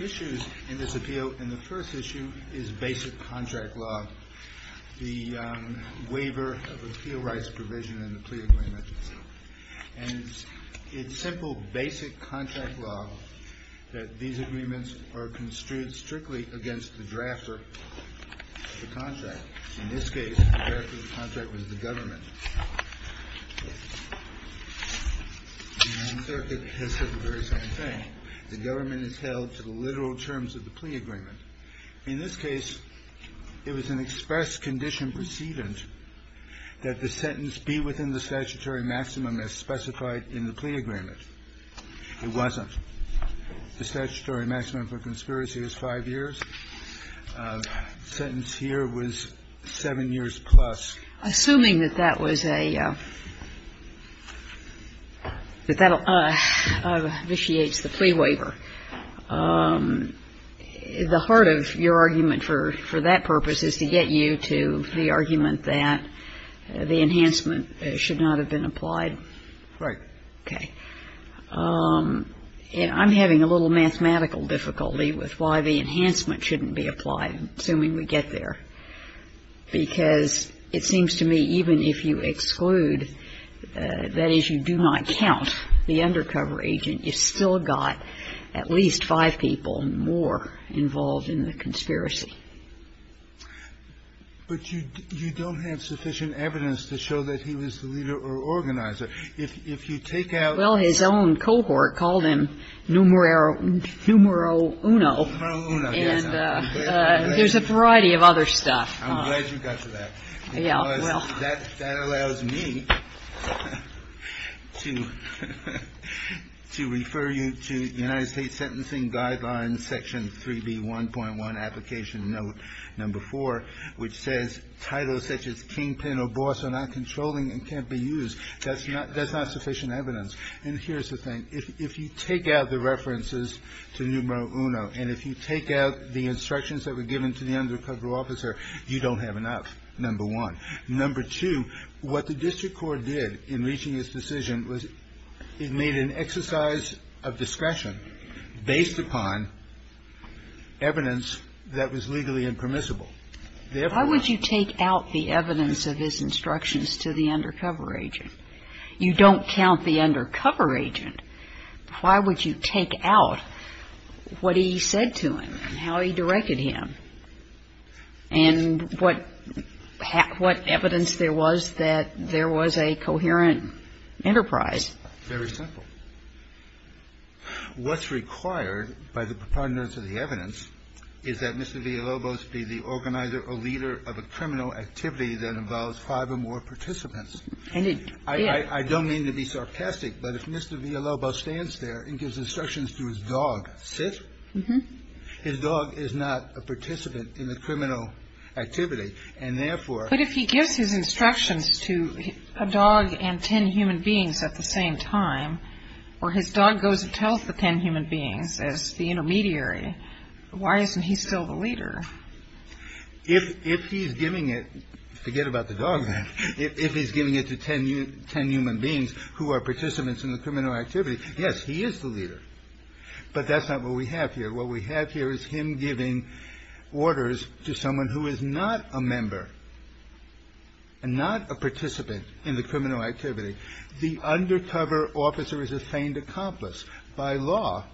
issues in this appeal and the first issue is basic contract law. The waiver of appeal rights provision in the plea agreement. And it's simple basic contract law that these the draft of the contract. In this case, the draft of the contract was the government. And the circuit has said the very same thing. The government is held to the literal terms of the plea agreement. In this case, it was an express condition precedent that the sentence be within the statutory maximum as specified in the plea agreement. It wasn't. The statutory maximum for conspiracy was five years. Sentence here was seven years plus. Assuming that that was a, that that initiates the plea waiver, the heart of your argument for that purpose is to get you to the argument that the enhancement should not have been applied? Right. Okay. And I'm having a little mathematical difficulty with why the enhancement shouldn't be applied, assuming we get there. Because it seems to me even if you exclude that issue, do not count the undercover agent, you've still got at least five people more involved in the conspiracy. But you don't have sufficient evidence to show that he was the leader or organizer. If you take out the... Well, his own cohort called him numero uno. Numero uno, yes. And there's a variety of other stuff. I'm glad you got to that. Yeah. Well... Because that allows me to refer you to United States Sentencing Guidelines section 3B1.1 application note number four, which says titles such as kingpin or boss are not controlling and can't be used. That's not sufficient evidence. And here's the thing. If you take out the references to numero uno and if you take out the instructions that were given to the undercover officer, you don't have enough, number one. Number two, what the district court did in reaching this decision was it made an exercise of discretion based upon evidence that was legally impermissible. Why would you take out the evidence of his instructions to the undercover agent? You don't count the undercover agent. Why would you take out what he said to him and how he directed him and what evidence there was that there was a coherent enterprise? Very simple. What's required by the preponderance of the evidence is that Mr. Villalobos be the organizer or leader of a criminal activity that involves five or more participants. And it did. I don't mean to be sarcastic, but if Mr. Villalobos stands there and gives instructions to his dog, sit, his dog is not a participant in the criminal activity, and therefore... If he gives instructions to a dog and ten human beings at the same time or his dog goes and tells the ten human beings as the intermediary, why isn't he still the leader? If he's giving it, forget about the dog then, if he's giving it to ten human beings who are participants in the criminal activity, yes, he is the leader. But that's not what we have here. What we have here is him giving orders to someone who is not a member and not a participant in the criminal activity. The undercover officer is a feigned accomplice. By law,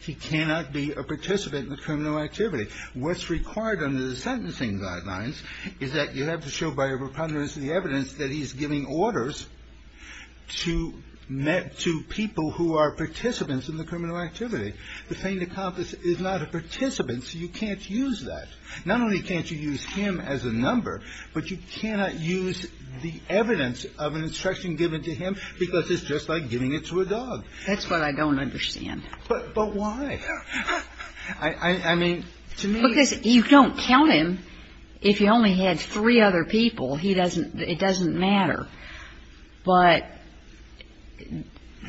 he cannot be a participant in the criminal activity. What's required under the sentencing guidelines is that you have to show by a preponderance of the evidence that he's giving orders to people who are participants in the criminal activity. The feigned accomplice is not a participant, so you can't use that. Not only can't you use him as a number, but you cannot use the evidence of an instruction given to him because it's just like giving it to a dog. That's what I don't understand. But why? I mean, to me... Because you don't count him. If you only had three other people, he doesn't, it doesn't matter. But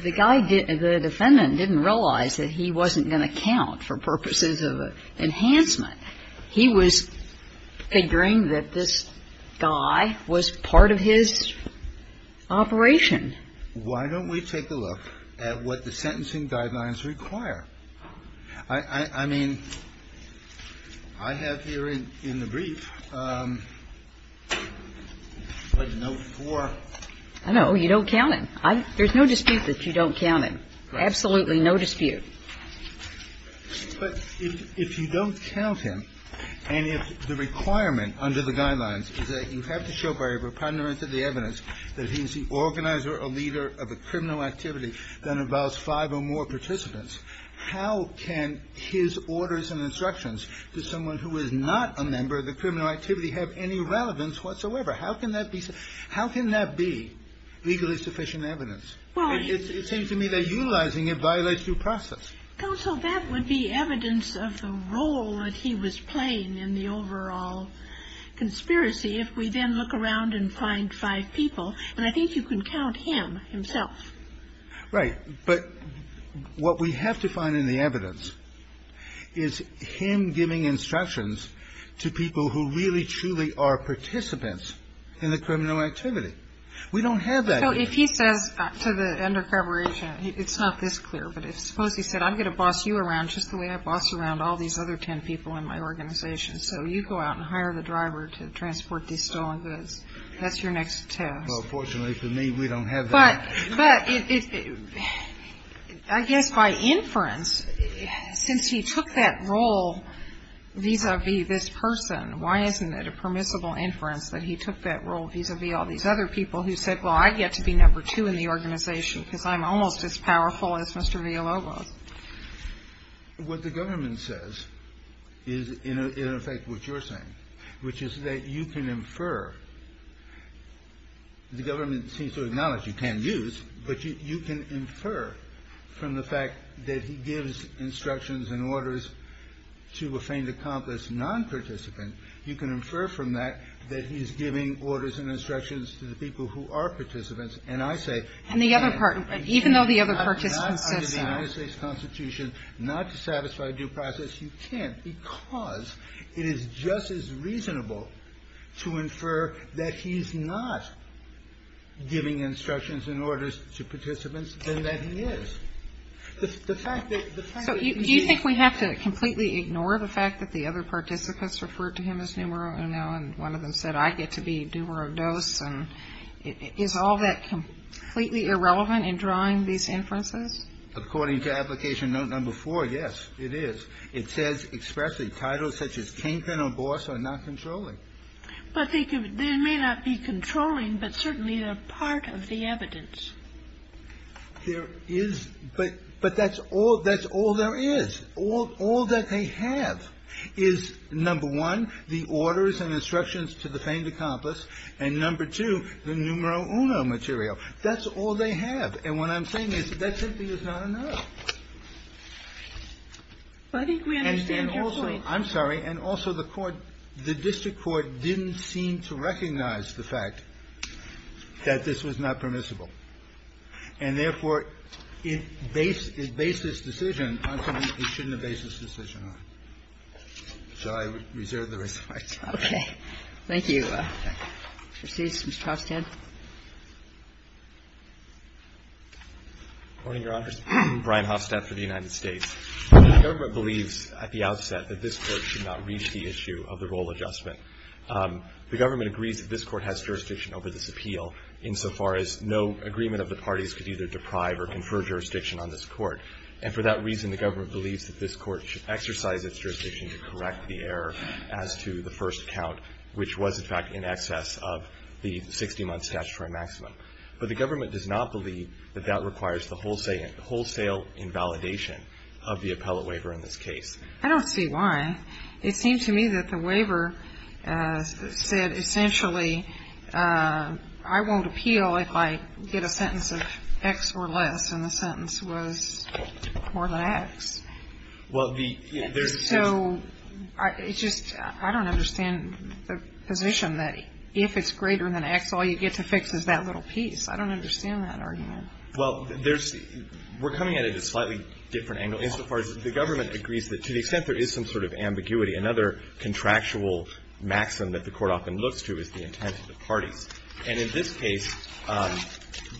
the guy didn't, the defendant didn't realize that he wasn't going to count for purposes of enhancement. He was figuring that this guy was part of his operation. Why don't we take a look at what the sentencing guidelines require? I mean, I have here in the brief, like note 4. I know. You don't count him. There's no dispute that you don't count him. Absolutely no dispute. But if you don't count him and if the requirement under the guidelines is that you have to show by a preponderance of the evidence that he's the organizer or leader of a criminal activity that involves five or more participants, how can his orders and instructions to someone who is not a member of the criminal activity have any relevance whatsoever? How can that be? How can that be legally sufficient evidence? It seems to me that utilizing it violates due process. Counsel, that would be evidence of the role that he was playing in the overall conspiracy if we then look around and find five people. And I think you can count him himself. Right. But what we have to find in the evidence is him giving instructions to people who really, truly are participants in the criminal activity. We don't have that here. So if he says to the undercover agent, it's not this clear, but suppose he said I'm going to boss you around just the way I boss around all these other ten people in my organization. So you go out and hire the driver to transport these stolen goods. That's your next test. Well, fortunately for me, we don't have that. But I guess by inference, since he took that role vis-a-vis this person, why isn't it a permissible inference that he took that role vis-a-vis all these other people who said, well, I get to be number two in the organization because I'm almost as powerful as Mr. Villalobos? What the government says is in effect what you're saying, which is that you can infer. The government seems to acknowledge you can use, but you can infer from the fact that he gives instructions and orders to a faint accomplice non-participant. You can infer from that that he's giving orders and instructions to the people who are participants. And the other part, even though the other participant says so. Not to satisfy due process, you can't, because it is just as reasonable to infer that he's not giving instructions and orders to participants than that he is. So do you think we have to completely ignore the fact that the other participants referred to him as numero uno and one of them said, I get to be numero dos, and is all that completely irrelevant in drawing these inferences? According to application note number four, yes, it is. It says expressly, titles such as kingpin or boss are not controlling. But they may not be controlling, but certainly they're part of the evidence. There is, but that's all there is. All that they have is, number one, the orders and instructions to the faint accomplice, and number two, the numero uno material. That's all they have. And what I'm saying is that simply is not enough. And also, I'm sorry, and also the court, the district court didn't seem to recognize the fact that this was not permissible. And therefore, it based its decision on something it shouldn't have based its decision on. So I reserve the respect. Okay. Thank you. Proceeds, Mr. Hofstadt. Good morning, Your Honors. Brian Hofstadt for the United States. The government believes at the outset that this Court should not reach the issue of the role adjustment. The government agrees that this Court has jurisdiction over this appeal insofar as no agreement of the parties could either deprive or confer jurisdiction on this Court. And for that reason, the government believes that this Court should exercise its jurisdiction to correct the error as to the first count, which was, in fact, in excess of the 60-month statutory maximum. But the government does not believe that that requires the wholesale invalidation of the appellate waiver in this case. I don't see why. It seems to me that the waiver said, essentially, I won't appeal if I get a sentence of X or less, and the sentence was more than X. So it's just I don't understand the position that if it's greater than X, all you get to fix is that little piece. I don't understand that argument. Well, we're coming at it at a slightly different angle. Insofar as the government agrees that to the extent there is some sort of ambiguity, another contractual maximum that the Court often looks to is the intent of the parties. And in this case,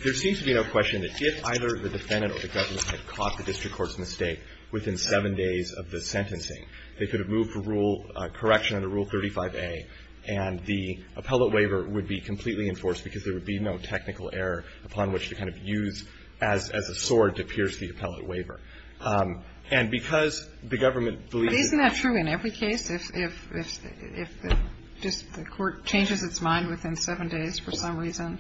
there seems to be no question that if either the defendant or the government had caught the district court's mistake within seven days of the sentencing, they could have moved for rule correction under Rule 35A, and the appellate waiver would be completely enforced because there would be no technical error upon which to kind of use as a sword to pierce the appellate waiver. And because the government believed that the court changed its mind within seven days for some reason,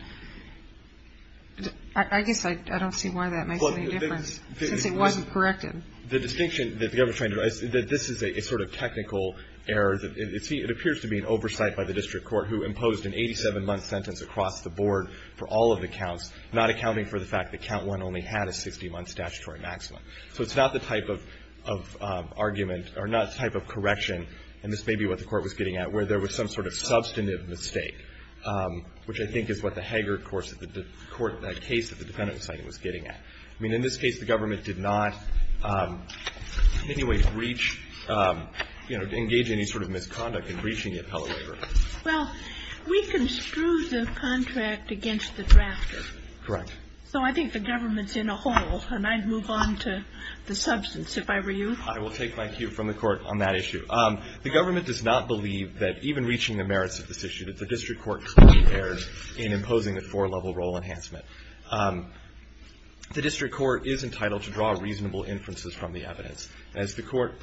I guess I don't see why that makes any difference, since it wasn't corrected. The distinction that the government is trying to make is that this is a sort of technical error. It appears to be an oversight by the district court who imposed an 87-month sentence across the board for all of the counts, not accounting for the fact that count one only had a 60-month statutory maximum. So it's not the type of argument, or not the type of correction, and this may be what the Court was getting at, where there was some sort of substantive mistake, which I think is what the Hager case that the defendant was saying was getting at. I mean, in this case, the government did not in any way breach, you know, engage any sort of misconduct in breaching the appellate waiver. Well, we construed the contract against the drafter. Correct. So I think the government's in a hole. And I'd move on to the substance, if I were you. I will take my cue from the Court on that issue. The government does not believe that even reaching the merits of this issue, that the district court clearly erred in imposing a four-level role enhancement. The district court is entitled to draw reasonable inferences from the evidence. As the Court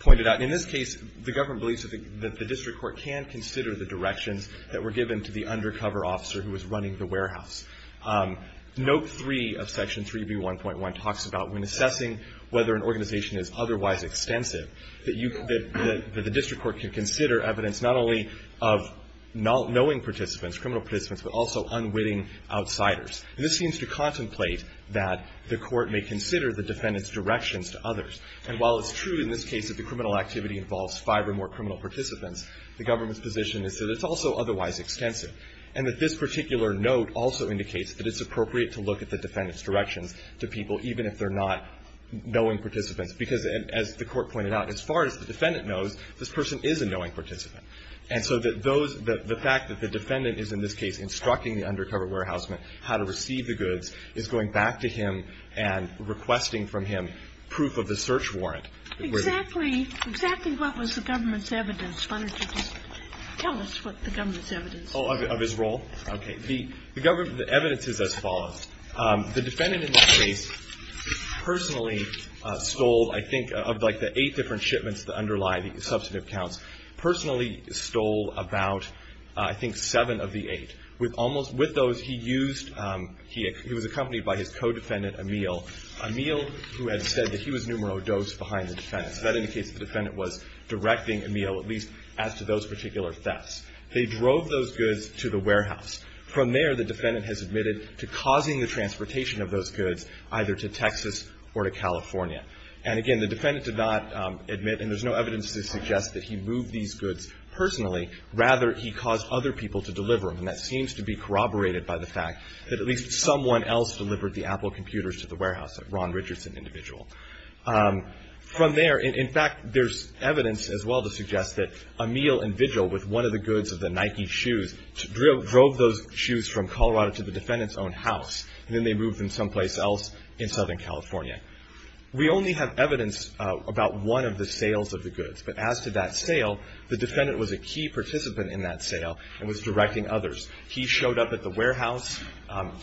pointed out, in this case, the government believes that the district court can consider the directions that were given to the undercover officer who was running the warehouse. Note 3 of Section 3B1.1 talks about when assessing whether an organization is otherwise extensive, that the district court can consider evidence not only of knowing participants, criminal participants, but also unwitting outsiders. This seems to contemplate that the court may consider the defendant's directions to others. And while it's true in this case that the criminal activity involves five or more criminal participants, the government's position is that it's also otherwise extensive, and that this particular note also indicates that it's appropriate to look at the defendant's directions to people, even if they're not knowing participants, because, as the Court pointed out, as far as the defendant knows, this person is a knowing participant. And so that those the fact that the defendant is, in this case, instructing the undercover warehouseman how to receive the goods is going back to him and requesting from him proof of the search warrant. Exactly. Exactly what was the government's evidence? Why don't you just tell us what the government's evidence is? Oh, of his role? Okay. The evidence is as follows. The defendant in this case personally stole, I think, of like the eight different shipments that underlie the substantive counts, personally stole about, I think, seven of the eight. With almost, with those, he used, he was accompanied by his co-defendant, Emile. Emile, who had said that he was numero dos behind the defendant. So that indicates the defendant was directing Emile, at least as to those particular thefts. They drove those goods to the warehouse. From there, the defendant has admitted to causing the transportation of those goods either to Texas or to California. And, again, the defendant did not admit, and there's no evidence to suggest that he moved these goods personally. Rather, he caused other people to deliver them. And that seems to be corroborated by the fact that at least someone else delivered the Apple computers to the warehouse, that Ron Richardson individual. From there, in fact, there's evidence as well to suggest that Emile and Vigil, with one of the goods of the Nike shoes, drove those shoes from Colorado to the defendant's own house. And then they moved them someplace else in Southern California. We only have evidence about one of the sales of the goods. But as to that sale, the defendant was a key participant in that sale and was directing others. He showed up at the warehouse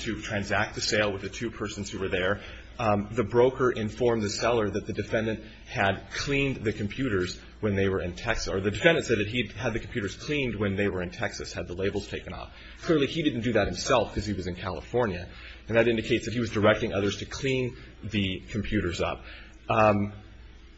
to transact the sale with the two persons who were there. The broker informed the seller that the defendant had cleaned the computers when they were in Texas. Or the defendant said that he had the computers cleaned when they were in Texas, had the labels taken off. Clearly, he didn't do that himself because he was in California. And that indicates that he was directing others to clean the computers up.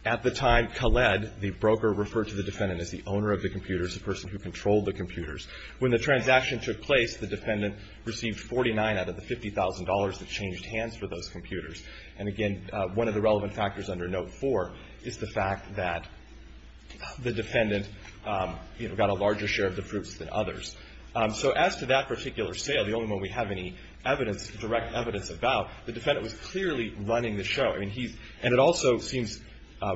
At the time, Khaled, the broker, referred to the defendant as the owner of the computers, the person who controlled the computers. When the transaction took place, the defendant received $49 out of the $50,000 that changed hands for those computers. And, again, one of the relevant factors under Note 4 is the fact that the defendant, you know, got a larger share of the fruits than others. So as to that particular sale, the only one we have any evidence, direct evidence about, the defendant was clearly running the show. I mean, he's – and it also seems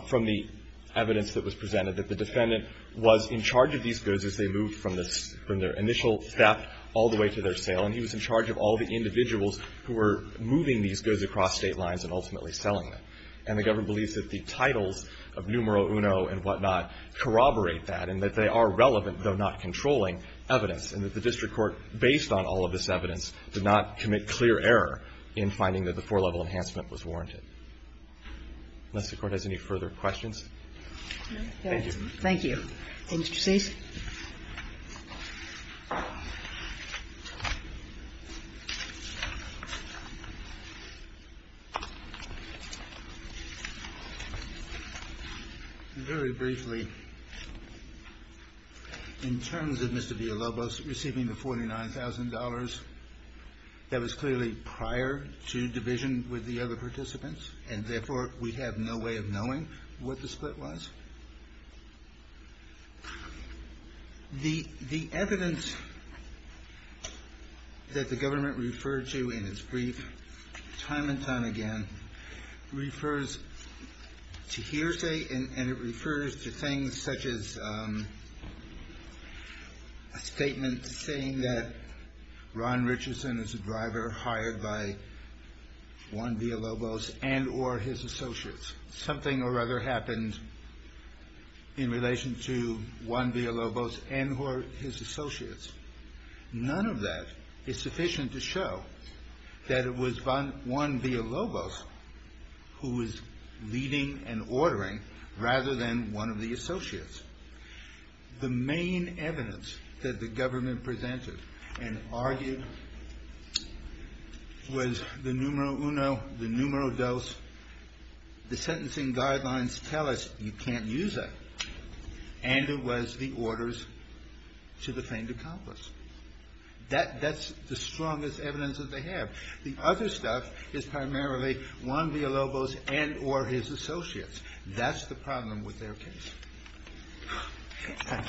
from the evidence that was presented that the defendant was in charge of these goods as they moved from their initial theft all the way to their sale. And he was in charge of all the individuals who were moving these goods across state lines and ultimately selling them. And the government believes that the titles of numero uno and whatnot corroborate that and that they are relevant, though not controlling, evidence and that the district court, based on all of this evidence, did not commit clear error in finding that the four-level enhancement was warranted. Unless the Court has any further questions. Thank you. Thank you. Mr. Cease. Very briefly, in terms of Mr. Villalobos receiving the $49,000, that was clearly prior to division with the other participants. And therefore, we have no way of knowing what the split was. The evidence that the government referred to in its brief time and time again refers to hearsay and it refers to things such as a statement saying that Ron Villalobos and or his associates. Something or other happened in relation to Ron Villalobos and or his associates. None of that is sufficient to show that it was Ron Villalobos who was leading and ordering rather than one of the associates. The main evidence that the government presented and argued was the numero uno, the numero dos. The sentencing guidelines tell us you can't use that. And it was the orders to the faint accomplice. That's the strongest evidence that they have. The other stuff is primarily Ron Villalobos and or his associates. That's the problem with their case. Thank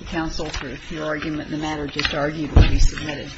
you, counsel, for your argument. The matter just argued will be submitted.